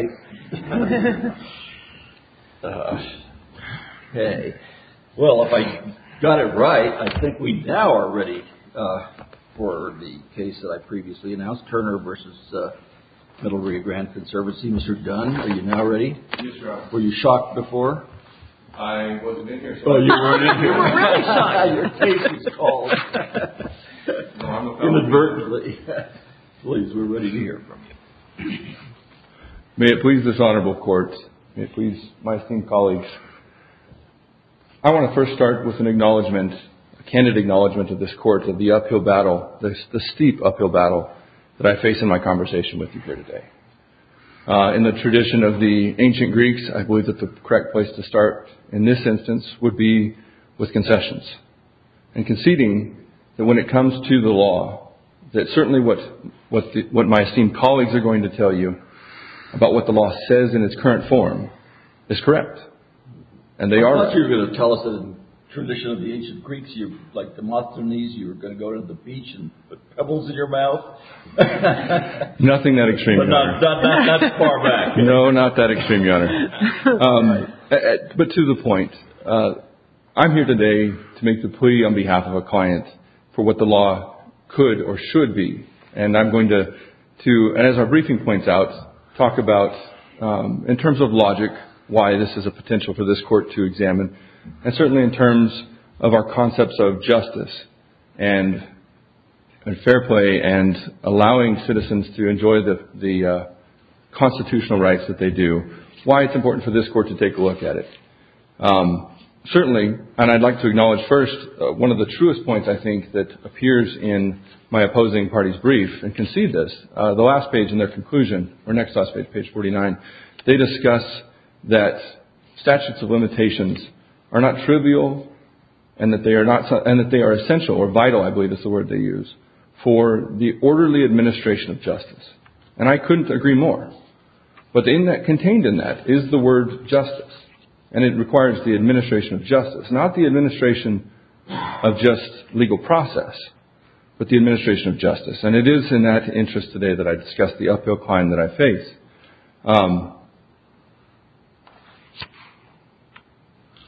Well, if I got it right, I think we now are ready for the case that I previously announced, Turner v. Middle Rio Grande Conservancy. Mr. Gunn, are you now ready? Yes, Your Honor. Were you shocked before? I wasn't in here, so. Well, you weren't in here. We were really shocked. Now your case is called. No, I'm a fellow. Inadvertently. Please, we're ready to hear from you. May it please this honorable court, may it please my esteemed colleagues, I want to first start with an acknowledgment, a candid acknowledgment of this court of the uphill battle, the steep uphill battle that I face in my conversation with you here today. In the tradition of the ancient Greeks, I believe that the correct place to start in this instance would be with concessions and conceding that when it comes to the law, that certainly what my esteemed colleagues are going to tell you about what the law says in its current form is correct. And they are. I thought you were going to tell us that in the tradition of the ancient Greeks, like the Mothernese, you were going to go to the beach and put pebbles in your mouth. Nothing that extreme, Your Honor. No, not that extreme, Your Honor. But to the point, I'm here today to make the plea on behalf of a client for what the law could or should be. And I'm going to, as our briefing points out, talk about, in terms of logic, why this is a potential for this court to examine and certainly in terms of our concepts of justice and fair play and allowing citizens to enjoy the constitutional rights that they do, why it's important for this court to take a look at it. Certainly, and I'd like to acknowledge first one of the truest points, I think, that appears in my opposing party's brief and concede this. The last page in their conclusion or next last page, page forty nine. They discuss that statutes of limitations are not trivial and that they are not and that they are essential or vital. I believe it's the word they use for the orderly administration of justice. And I couldn't agree more. But in that contained in that is the word justice. And it requires the administration of justice, not the administration of just legal process, but the administration of justice. And it is in that interest today that I discussed the uphill climb that I face.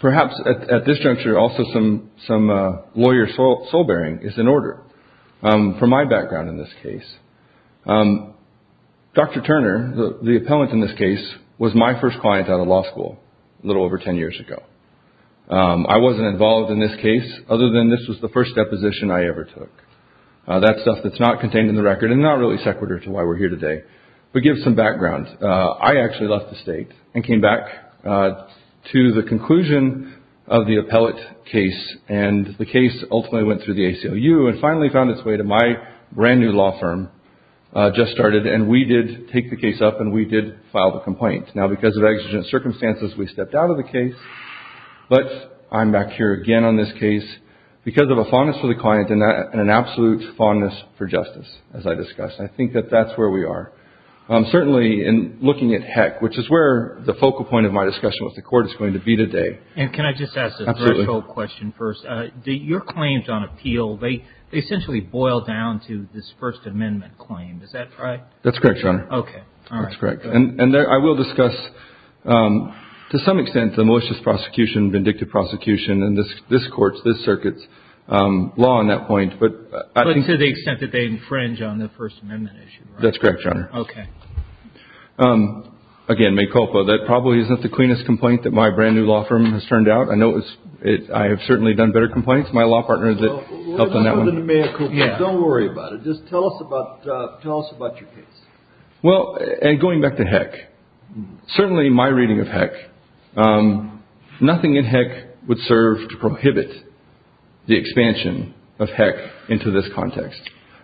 Perhaps at this juncture, also some some lawyer soul bearing is in order for my background in this case. Dr. Turner, the appellant in this case, was my first client out of law school a little over 10 years ago. I wasn't involved in this case other than this was the first deposition I ever took. That stuff that's not contained in the record and not really secular to why we're here today. But give some background. I actually left the state and came back to the conclusion of the appellate case. And the case ultimately went through the ACLU and finally found its way to my brand new law firm just started. And we did take the case up and we did file the complaint. Now, because of exigent circumstances, we stepped out of the case. But I'm back here again on this case because of a fondness for the client and an absolute fondness for justice. As I discussed, I think that that's where we are, certainly in looking at heck, which is where the focal point of my discussion with the court is going to be today. And can I just ask a threshold question first? Your claims on appeal, they essentially boil down to this First Amendment claim, is that right? That's correct, Your Honor. Okay. That's correct. And I will discuss, to some extent, the malicious prosecution, vindictive prosecution, and this court's, this circuit's law on that point. But to the extent that they infringe on the First Amendment issue, right? That's correct, Your Honor. Okay. Again, Mayor Culpa, that probably isn't the cleanest complaint that my brand new law firm has turned out. I know I have certainly done better complaints. My law partner helped on that one. Don't worry about it. Just tell us about your case. Well, and going back to heck, certainly my reading of heck, nothing in heck would serve to prohibit the expansion of heck into this context.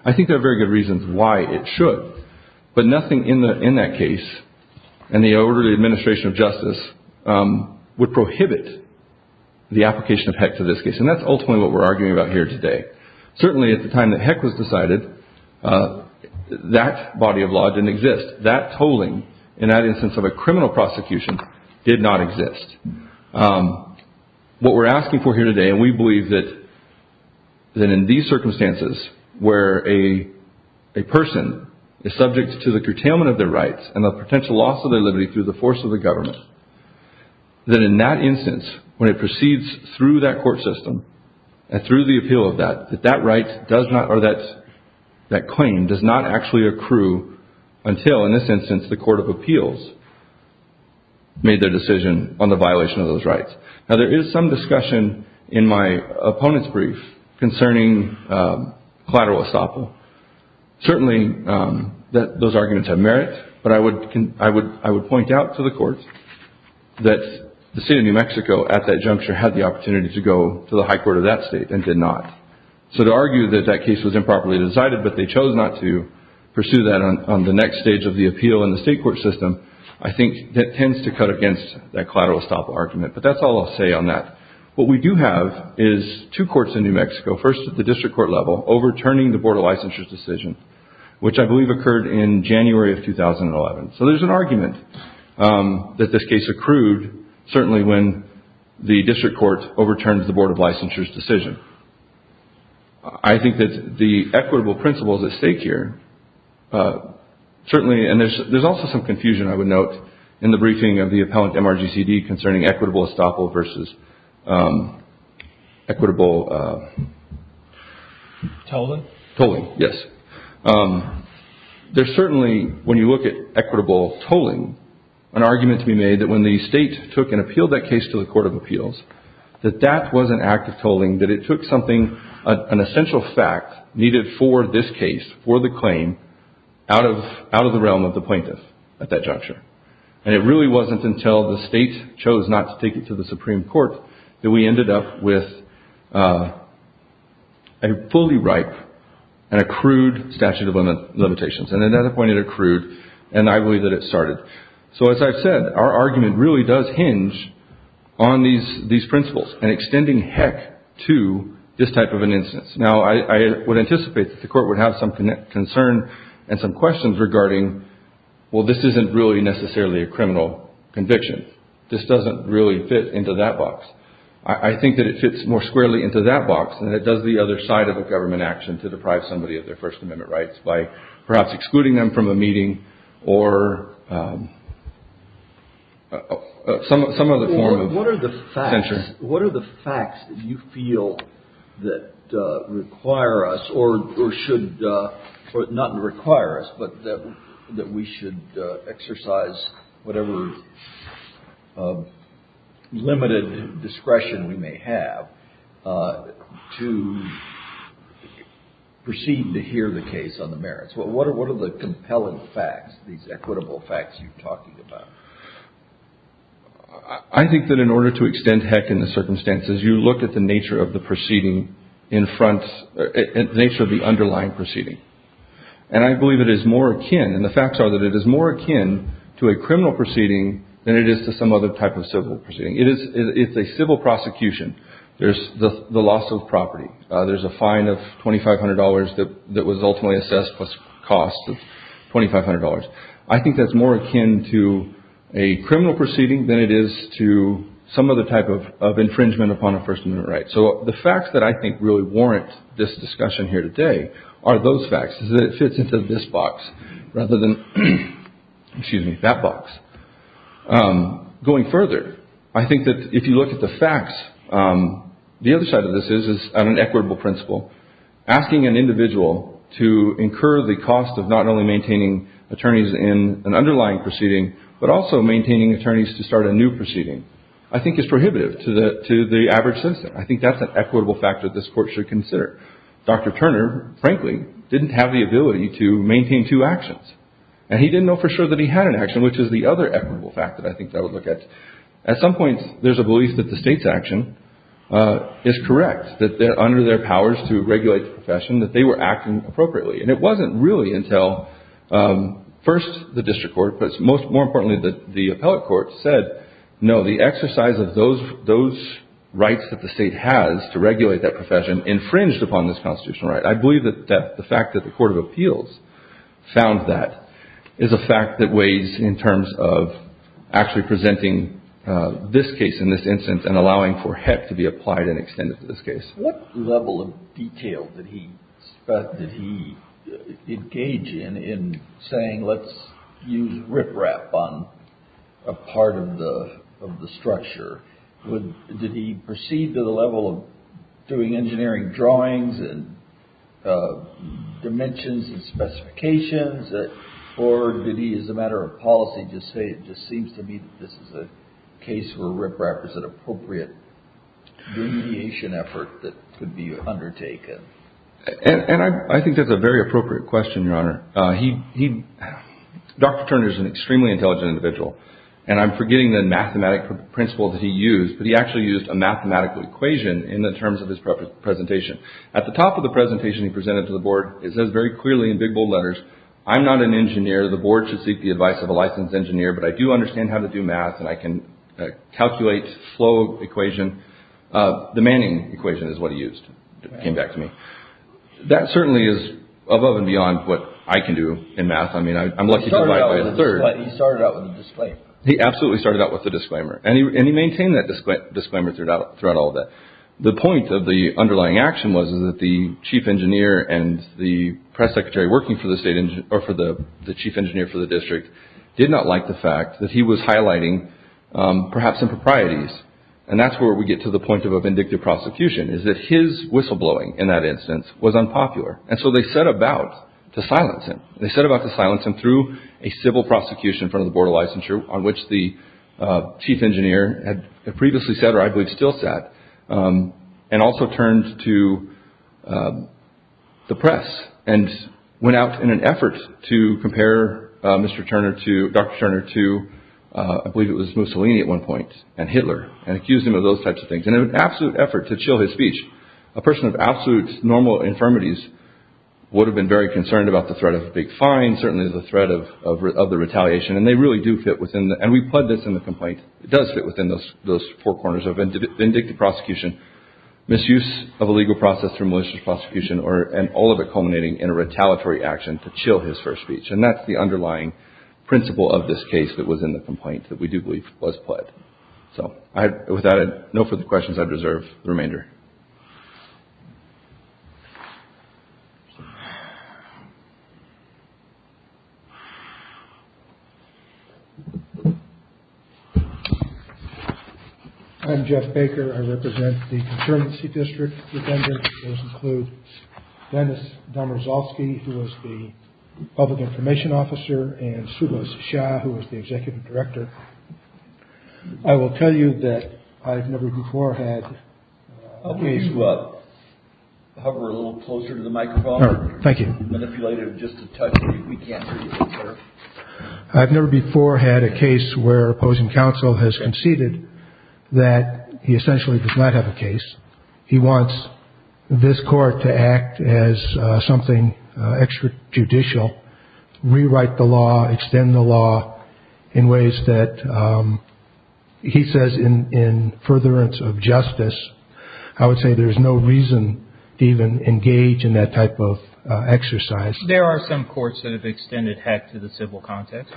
I think there are very good reasons why it should. But nothing in that case, in the orderly administration of justice, would prohibit the application of heck to this case. And that's ultimately what we're arguing about here today. Certainly at the time that heck was decided, that body of law didn't exist. That tolling, in that instance of a criminal prosecution, did not exist. What we're asking for here today, and we believe that in these circumstances where a person is subject to the curtailment of their rights and the potential loss of their liberty through the force of the government, that in that instance, when it proceeds through that court system and through the appeal of that, that that claim does not actually accrue until, in this instance, the court of appeals made their decision on the violation of those rights. Now there is some discussion in my opponent's brief concerning collateral estoppel. Certainly those arguments have merit, but I would point out to the courts that the state of New Mexico at that juncture had the opportunity to go to the high court of that state and did not. So to argue that that case was improperly decided, but they chose not to pursue that on the next stage of the appeal in the state court system, I think that tends to cut against that collateral estoppel argument. But that's all I'll say on that. What we do have is two courts in New Mexico, first at the district court level, overturning the Board of Licensure's decision, which I believe occurred in January of 2011. So there's an argument that this case accrued, certainly when the district court overturned the Board of Licensure's decision. I think that the equitable principle is at stake here. Certainly, and there's also some confusion, I would note, in the briefing of the appellant MRGCD concerning equitable estoppel versus equitable tolling. Yes. There's certainly, when you look at equitable tolling, an argument to be made that when the state took and appealed that case to the Court of Appeals, that that was an act of tolling, that it took something, an essential fact needed for this case, for the claim, out of the realm of the plaintiff at that juncture. And it really wasn't until the state chose not to take it to the Supreme Court that we ended up with a fully ripe and accrued statute of limitations. And at that point, it accrued, and I believe that it started. So as I've said, our argument really does hinge on these principles and extending heck to this type of an instance. Now, I would anticipate that the Court would have some concern and some questions regarding, well, this isn't really necessarily a criminal conviction. This doesn't really fit into that box. I think that it fits more squarely into that box than it does the other side of a government action to deprive somebody of their First Amendment rights by perhaps excluding them from a meeting or some other form of censure. What are the facts that you feel that require us or should not require us, but that we should exercise whatever limited discretion we may have to proceed to hear the case on the merits? What are the compelling facts, these equitable facts you're talking about? I think that in order to extend heck in the circumstances, you look at the nature of the proceeding in front, the nature of the underlying proceeding. And I believe it is more akin, and the facts are that it is more akin to a criminal proceeding than it is to some other type of civil proceeding. It's a civil prosecution. There's the loss of property. There's a fine of $2,500 that was ultimately assessed plus costs of $2,500. I think that's more akin to a criminal proceeding than it is to some other type of infringement upon a First Amendment right. So the facts that I think really warrant this discussion here today are those facts. It fits into this box rather than that box. Going further, I think that if you look at the facts, the other side of this is an equitable principle. Asking an individual to incur the cost of not only maintaining attorneys in an underlying proceeding, but also maintaining attorneys to start a new proceeding, I think is prohibitive to the average citizen. I think that's an equitable factor this court should consider. Dr. Turner, frankly, didn't have the ability to maintain two actions. And he didn't know for sure that he had an action, which is the other equitable factor I think that I would look at. At some point, there's a belief that the state's action is correct, that under their powers to regulate the profession, that they were acting appropriately. And it wasn't really until first the district court, but more importantly, the appellate court said, no, the exercise of those rights that the state has to regulate that profession infringed upon this constitutional right. I believe that the fact that the court of appeals found that is a fact that weighs in terms of actually presenting this case in this instance and allowing for HEC to be applied and extended to this case. What level of detail did he engage in, in saying let's use riprap on a part of the structure? Did he proceed to the level of doing engineering drawings and dimensions and specifications? Or did he, as a matter of policy, just say it just seems to me that this is a case where riprap is an appropriate remediation effort that could be undertaken? And I think that's a very appropriate question, Your Honor. He Dr. Turner is an extremely intelligent individual. And I'm forgetting the mathematical principles he used, but he actually used a mathematical equation in the terms of his presentation. At the top of the presentation he presented to the board, it says very clearly in big bold letters. I'm not an engineer. The board should seek the advice of a licensed engineer. But I do understand how to do math and I can calculate slow equation. The Manning equation is what he used. It came back to me. That certainly is above and beyond what I can do in math. I mean, I'm lucky. He started out with a disclaimer. He absolutely started out with a disclaimer. And he maintained that disclaimer throughout all of that. The point of the underlying action was that the chief engineer and the press secretary working for the state or for the chief engineer for the district did not like the fact that he was highlighting perhaps improprieties. And that's where we get to the point of a vindictive prosecution is that his whistleblowing in that instance was unpopular. And so they set about to silence him. They set about to silence him through a civil prosecution from the board of licensure on which the chief engineer had previously said, or I believe still sat and also turned to the press and went out in an effort to compare Mr. Turner to Dr. Turner to I believe it was Mussolini at one point and Hitler and accused him of those types of things. In an absolute effort to chill his speech, a person of absolute normal infirmities would have been very concerned about the threat of a big fine, certainly the threat of the retaliation. And they really do fit within. And we put this in the complaint. It does fit within those those four corners of vindictive prosecution, misuse of a legal process for malicious prosecution or and all of it culminating in a retaliatory action to chill his first speech. And that's the underlying principle of this case that was in the complaint that we do believe was put. So with that, no further questions. I deserve the remainder. I'm Jeff Baker. I represent the district. Those include Dennis Domazowski, who was the public information officer and Sue Shah, who was the executive director. I will tell you that I've never before had a case. Hover a little closer to the microphone. Thank you. I've never before had a case where opposing counsel has conceded that he essentially does not have a case. He wants this court to act as something extra judicial, rewrite the law, extend the law in ways that he says in in furtherance of justice. I would say there's no reason to even engage in that type of exercise. There are some courts that have extended heck to the civil context.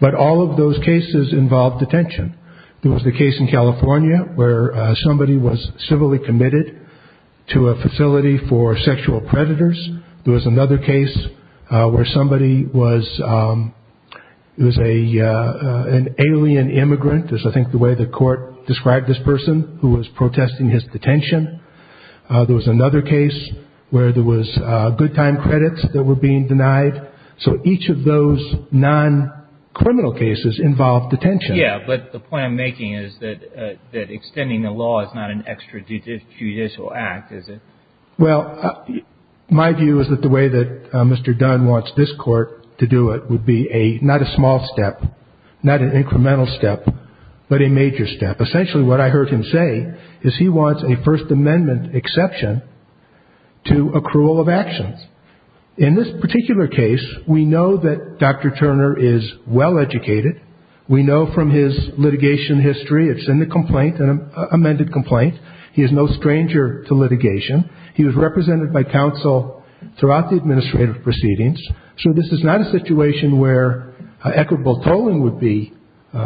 But all of those cases involved detention. It was the case in California where somebody was civilly committed to a facility for sexual predators. There was another case where somebody was it was a an alien immigrant. There's I think the way the court described this person who was protesting his detention. There was another case where there was good time credits that were being denied. So each of those non-criminal cases involved detention. Yeah. But the point I'm making is that that extending the law is not an extra judicial act, is it? Well, my view is that the way that Mr. Dunn wants this court to do it would be a not a small step, not an incremental step, but a major step. Essentially what I heard him say is he wants a First Amendment exception to accrual of actions. In this particular case, we know that Dr. Turner is well educated. We know from his litigation history it's in the complaint, an amended complaint. He is no stranger to litigation. He was represented by counsel throughout the administrative proceedings. So this is not a situation where equitable tolling would be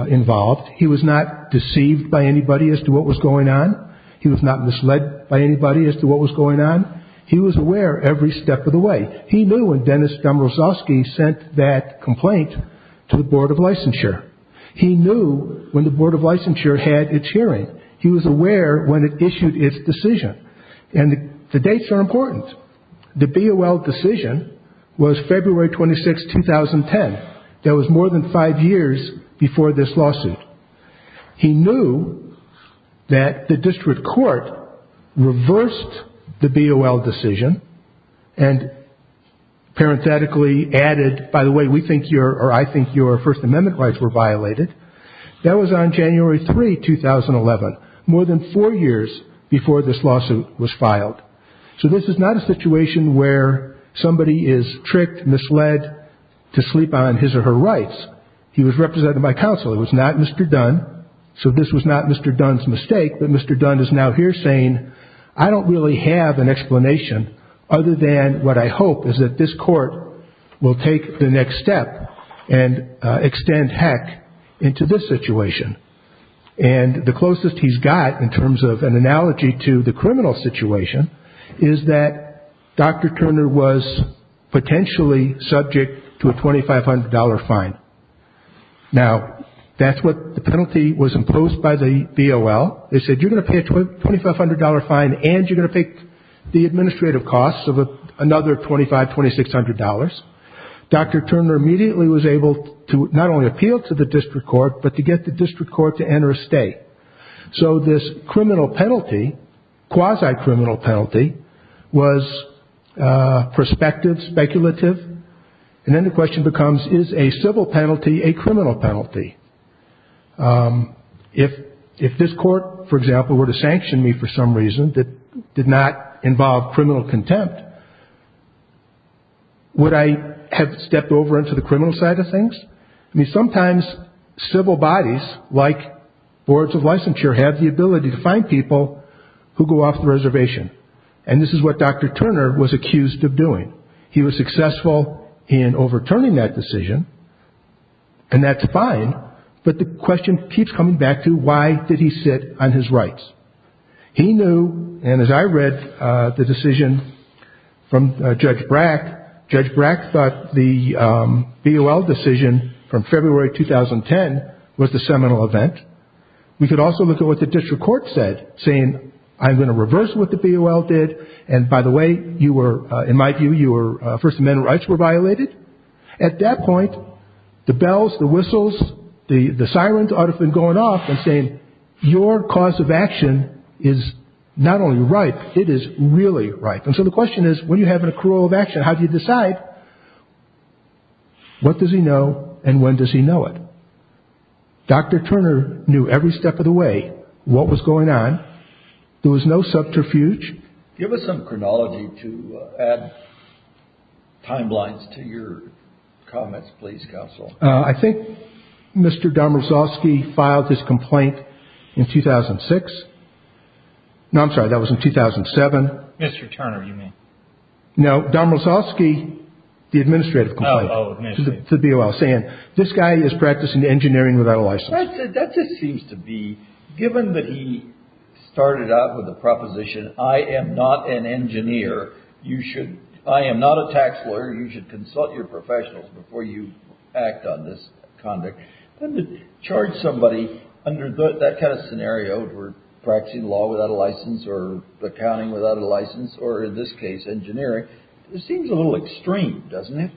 involved. He was not deceived by anybody as to what was going on. He was not misled by anybody as to what was going on. He was aware every step of the way. He knew when Dennis Dombrosowski sent that complaint to the Board of Licensure. He knew when the Board of Licensure had its hearing. He was aware when it issued its decision. And the dates are important. The BOL decision was February 26, 2010. That was more than five years before this lawsuit. He knew that the district court reversed the BOL decision and parenthetically added, by the way, I think your First Amendment rights were violated. That was on January 3, 2011, more than four years before this lawsuit was filed. So this is not a situation where somebody is tricked, misled to sleep on his or her rights. He was represented by counsel. It was not Mr. Dunn. So this was not Mr. Dunn's mistake, but Mr. Dunn is now here saying, I don't really have an explanation other than what I hope is that this court will take the next step and extend heck into this situation. And the closest he's got, in terms of an analogy to the criminal situation, is that Dr. Turner was potentially subject to a $2,500 fine. Now, that's what the penalty was imposed by the BOL. They said, you're going to pay a $2,500 fine, and you're going to pay the administrative costs of another $2,500, $2,600. Dr. Turner immediately was able to not only appeal to the district court, but to get the district court to enter a stay. So this criminal penalty, quasi-criminal penalty, was prospective, speculative. And then the question becomes, is a civil penalty a criminal penalty? If this court, for example, were to sanction me for some reason that did not involve criminal contempt, would I have stepped over into the criminal side of things? I mean, sometimes civil bodies, like boards of licensure, have the ability to fine people who go off the reservation. And this is what Dr. Turner was accused of doing. He was successful in overturning that decision, and that's fine. But the question keeps coming back to, why did he sit on his rights? He knew, and as I read the decision from Judge Brack, Judge Brack thought the BOL decision from February 2010 was the seminal event. We could also look at what the district court said, saying, I'm going to reverse what the BOL did, and by the way, in my view, your First Amendment rights were violated. At that point, the bells, the whistles, the sirens ought to have been going off and saying, your cause of action is not only right, it is really right. And so the question is, when you have an accrual of action, how do you decide? What does he know, and when does he know it? Dr. Turner knew every step of the way what was going on. There was no subterfuge. Give us some chronology to add timelines to your comments, please, counsel. I think Mr. Domrosovsky filed his complaint in 2006. No, I'm sorry, that was in 2007. Mr. Turner, you mean. No, Domrosovsky, the administrative complaint to the BOL, saying, this guy is practicing engineering without a license. That just seems to be, given that he started out with the proposition, I am not an engineer, I am not a tax lawyer, you should consult your professionals before you act on this conduct, then to charge somebody under that kind of scenario, practicing law without a license or accounting without a license, or in this case engineering, it seems a little extreme, doesn't it?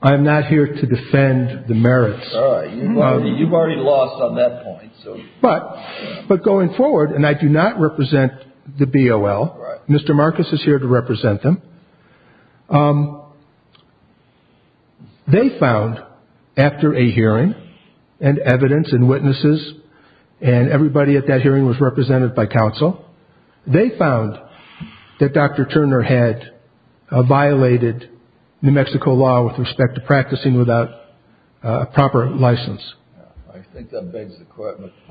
I'm not here to defend the merits. All right, you've already lost on that point. But going forward, and I do not represent the BOL, Mr. Marcus is here to represent them, they found after a hearing and evidence and witnesses and everybody at that hearing was represented by counsel, they found that Dr. Turner had violated New Mexico law with respect to practicing without a proper license. I think that begs the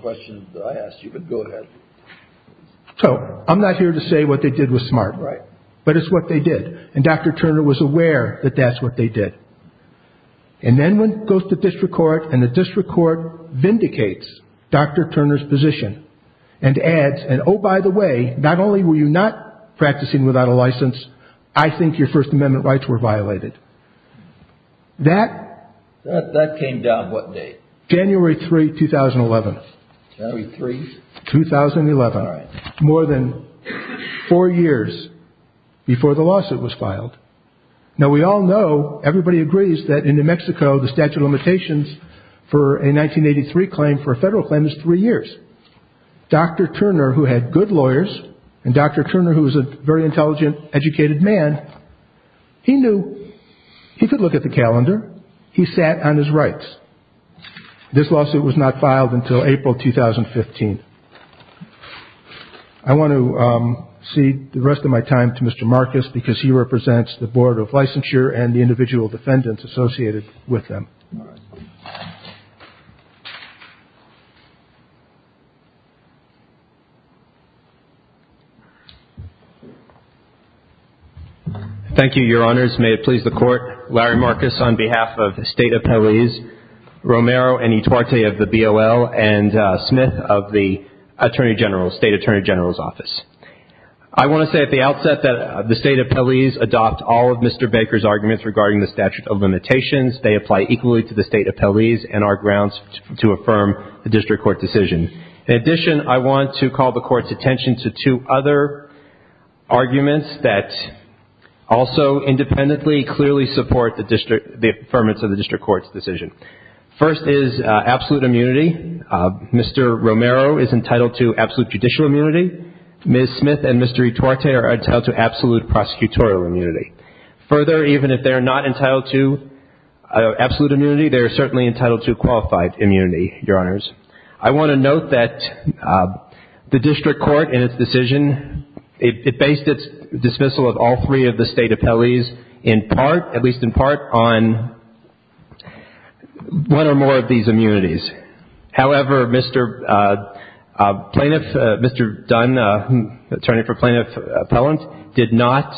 question that I asked you, but go ahead. So I'm not here to say what they did was smart. Right. But it's what they did. And Dr. Turner was aware that that's what they did. And then one goes to district court and the district court vindicates Dr. Turner's position and adds, and oh, by the way, not only were you not practicing without a license, I think your First Amendment rights were violated. That came down what date? January 3, 2011. January 3? 2011. All right. More than four years before the lawsuit was filed. Now, we all know, everybody agrees that in New Mexico, the statute of limitations for a 1983 claim for a federal claim is three years. Dr. Turner, who had good lawyers, and Dr. Turner, who was a very intelligent, educated man, he knew he could look at the calendar. He sat on his rights. This lawsuit was not filed until April 2015. I want to cede the rest of my time to Mr. Marcus, because he represents the Board of Licensure and the individual defendants associated with them. All right. Thank you, Your Honors. May it please the Court. Larry Marcus on behalf of the State Appellees, Romero and Etoite of the BOL, and Smith of the Attorney General, State Attorney General's Office. I want to say at the outset that the State Appellees adopt all of Mr. Baker's arguments regarding the statute of limitations. They apply equally to the State Appellees and our grounds to affirm the district court decision. In addition, I want to call the Court's attention to two other arguments that also independently clearly support the affirmance of the district court's decision. First is absolute immunity. Mr. Romero is entitled to absolute judicial immunity. Ms. Smith and Mr. Etoite are entitled to absolute prosecutorial immunity. Further, even if they are not entitled to absolute immunity, they are certainly entitled to qualified immunity, Your Honors. I want to note that the district court in its decision, it based its dismissal of all three of the State Appellees in part, at least in part, on one or more of these immunities. However, Mr. Plaintiff, Mr. Dunn, attorney for Plaintiff Appellant, did not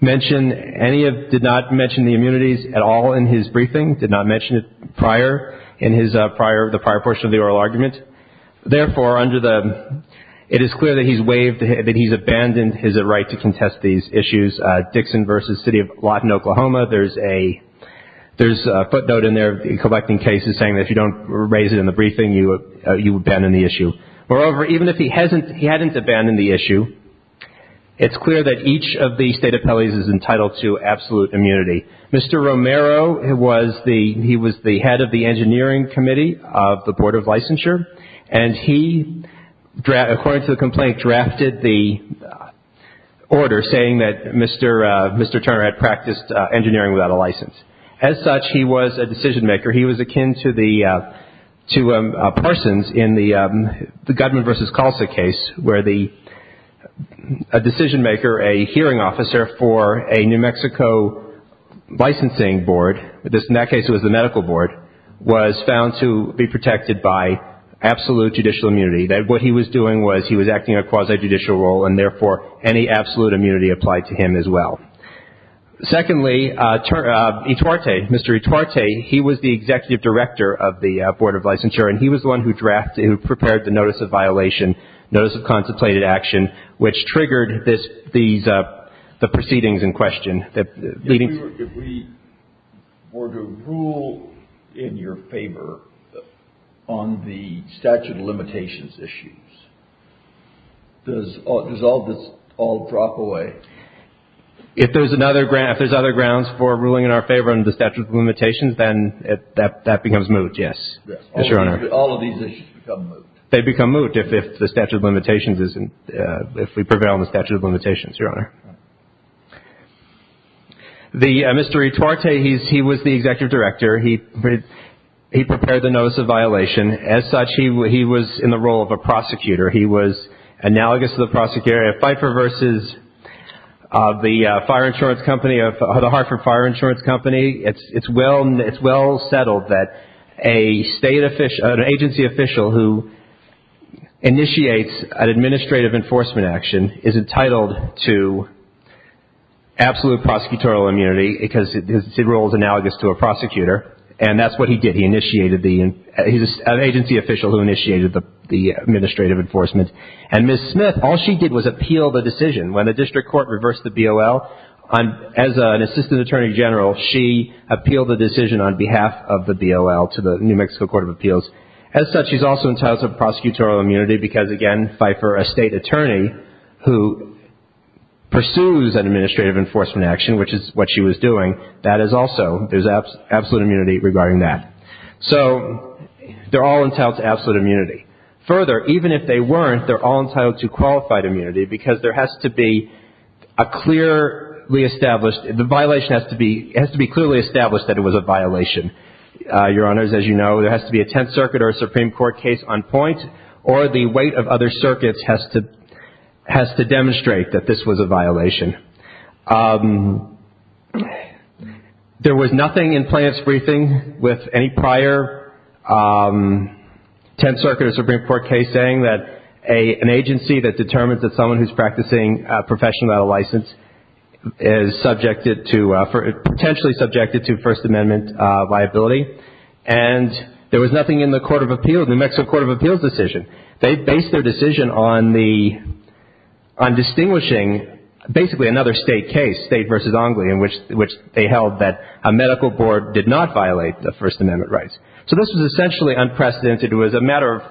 mention any of, did not mention the immunities at all in his briefing, did not mention it prior, in his prior, the prior portion of the oral argument. Therefore, under the, it is clear that he's waived, that he's abandoned his right to contest these issues. Dixon v. City of Lawton, Oklahoma, there's a, there's a footnote in there, collecting cases saying that if you don't raise it in the briefing, you abandon the issue. Moreover, even if he hasn't, he hadn't abandoned the issue, it's clear that each of the State Appellees is entitled to absolute immunity. Mr. Romero was the, he was the head of the Engineering Committee of the Board of Licensure, and he, according to the complaint, drafted the order saying that Mr. Turner had practiced engineering without a license. As such, he was a decision-maker. He was akin to the, to Parsons in the Gutman v. Calsa case where the, a decision-maker, a hearing officer for a New Mexico licensing board, in that case it was the medical board, was found to be protected by absolute judicial immunity. What he was doing was he was acting in a quasi-judicial role, and therefore any absolute immunity applied to him as well. Secondly, E. Tuarte, Mr. E. Tuarte, he was the executive director of the Board of Licensure, and he was the one who drafted, who prepared the notice of violation, notice of contemplated action, which triggered this, these proceedings in question. If we were to rule in your favor on the statute of limitations issues, does all this all drop away? If there's another, if there's other grounds for ruling in our favor on the statute of limitations, then that becomes moot, yes, yes, Your Honor. All of these issues become moot. They become moot if the statute of limitations is, if we prevail on the statute of limitations, Your Honor. The, Mr. E. Tuarte, he was the executive director. He prepared the notice of violation. As such, he was in the role of a prosecutor. He was analogous to the prosecutor at Pfeiffer versus the fire insurance company, the Hartford Fire Insurance Company. It's well settled that an agency official who initiates an administrative enforcement action is entitled to absolute prosecutorial immunity because his role is analogous to a prosecutor, and that's what he did. He initiated the, he's an agency official who initiated the administrative enforcement. And Ms. Smith, all she did was appeal the decision. When the district court reversed the BOL, as an assistant attorney general, she appealed the decision on behalf of the BOL to the New Mexico Court of Appeals. As such, she's also entitled to prosecutorial immunity because, again, Pfeiffer, a state attorney, who pursues an administrative enforcement action, which is what she was doing, that is also, there's absolute immunity regarding that. So they're all entitled to absolute immunity. Further, even if they weren't, they're all entitled to qualified immunity because there has to be a clearly established, the violation has to be clearly established that it was a violation. Your Honors, as you know, there has to be a Tenth Circuit or a Supreme Court case on point, or the weight of other circuits has to demonstrate that this was a violation. There was nothing in Plaintiff's Briefing with any prior Tenth Circuit or Supreme Court case saying that an agency that determines that someone who's practicing a professional battle license is subjected to, potentially subjected to First Amendment liability. And there was nothing in the Court of Appeals, New Mexico Court of Appeals decision. They based their decision on the, on distinguishing basically another state case, State v. Ongly, in which they held that a medical board did not violate the First Amendment rights. So this was essentially unprecedented. It was a matter of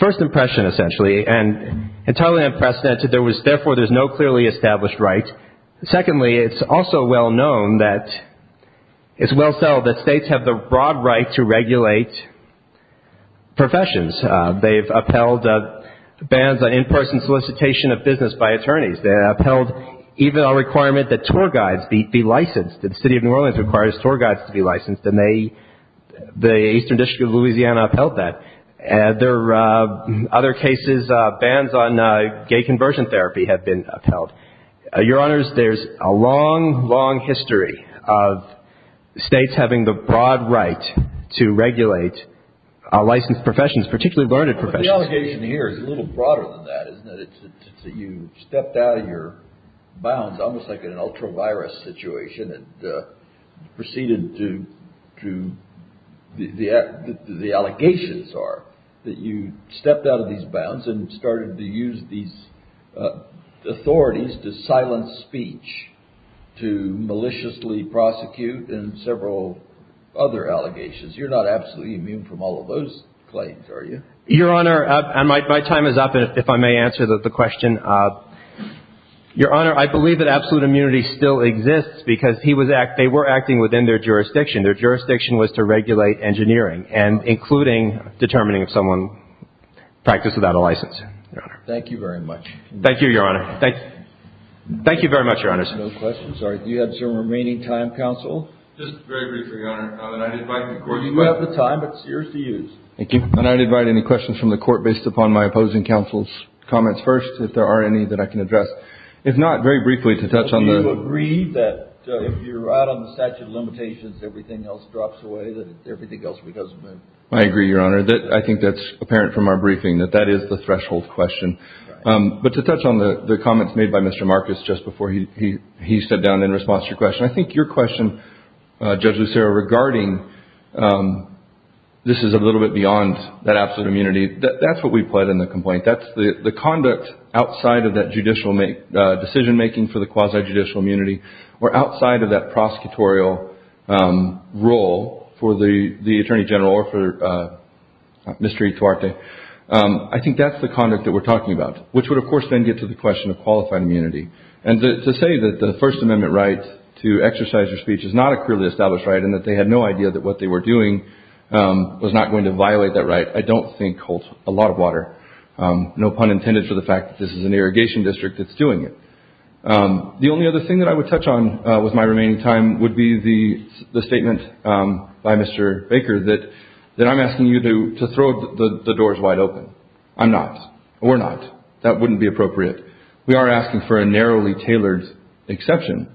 first impression, essentially, and entirely unprecedented. There was, therefore, there's no clearly established right. Secondly, it's also well known that, it's well settled that states have the broad right to regulate professions. They've upheld bans on in-person solicitation of business by attorneys. They upheld even a requirement that tour guides be licensed. The City of New Orleans requires tour guides to be licensed, and they, the Eastern District of Louisiana upheld that. There are other cases, bans on gay conversion therapy have been upheld. Your Honors, there's a long, long history of states having the broad right to regulate licensed professions, particularly learned professions. The allegation here is a little broader than that, isn't it? It's that you stepped out of your bounds, almost like in an ultra-virus situation, and proceeded to, the allegations are that you stepped out of these bounds and started to use these authorities to silence speech, to maliciously prosecute, and several other allegations. You're not absolutely immune from all of those claims, are you? Your Honor, my time is up, if I may answer the question. Your Honor, I believe that absolute immunity still exists, because they were acting within their jurisdiction. Their jurisdiction was to regulate engineering, and including determining if someone practiced without a license. Thank you very much. Thank you, Your Honor. Thank you very much, Your Honors. No questions? All right. Do you have some remaining time, Counsel? Just very briefly, Your Honor, and I'd invite the Court. You have the time, but it's yours to use. Thank you. And I'd invite any questions from the Court, based upon my opposing Counsel's comments first, if there are any that I can address. If not, very briefly, to touch on the— Do you agree that if you're out on the statute of limitations, everything else drops away, that everything else goes away? I agree, Your Honor. I think that's apparent from our briefing, that that is the threshold question. But to touch on the comments made by Mr. Marcus just before he stepped down in response to your question, I think your question, Judge Lucero, regarding this is a little bit beyond that absolute immunity, that's what we put in the complaint. That's the conduct outside of that decision-making for the quasi-judicial immunity, or outside of that prosecutorial role for the Attorney General or for Mr. E. Tuarte. I think that's the conduct that we're talking about, which would, of course, then get to the question of qualified immunity. And to say that the First Amendment right to exercise your speech is not a clearly established right and that they had no idea that what they were doing was not going to violate that right, I don't think holds a lot of water. No pun intended for the fact that this is an irrigation district that's doing it. The only other thing that I would touch on with my remaining time would be the statement by Mr. Baker, that I'm asking you to throw the doors wide open. I'm not. Or not. That wouldn't be appropriate. We are asking for a narrowly tailored exception,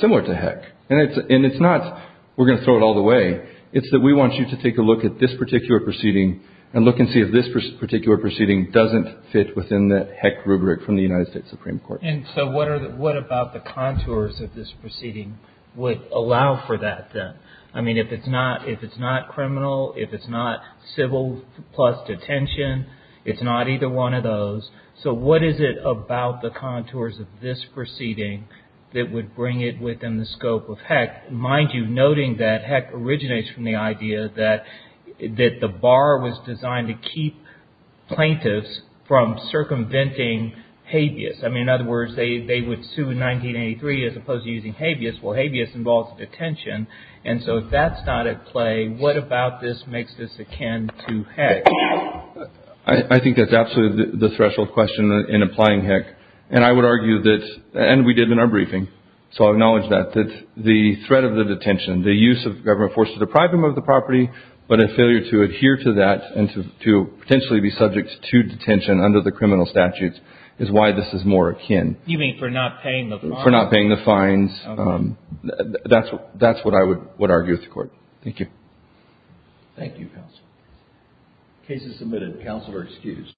similar to Heck. And it's not we're going to throw it all the way. It's that we want you to take a look at this particular proceeding and look and see if this particular proceeding doesn't fit within the Heck rubric from the United States Supreme Court. And so what about the contours of this proceeding would allow for that then? I mean, if it's not criminal, if it's not civil plus detention, it's not either one of those. So what is it about the contours of this proceeding that would bring it within the scope of Heck? Mind you, noting that Heck originates from the idea that the bar was designed to keep plaintiffs from circumventing habeas. I mean, in other words, they would sue in 1983 as opposed to using habeas. Well, habeas involves detention. And so if that's not at play, what about this makes this akin to Heck? I think that's absolutely the threshold question in applying Heck. And I would argue that, and we did in our briefing, so I'll acknowledge that, that the threat of the detention, the use of government force to deprive them of the property, but a failure to adhere to that and to potentially be subject to detention under the criminal statutes is why this is more akin. You mean for not paying the fines? For not paying the fines. That's what I would argue with the Court. Thank you. Thank you, Counsel. Case is submitted. Counsel are excused.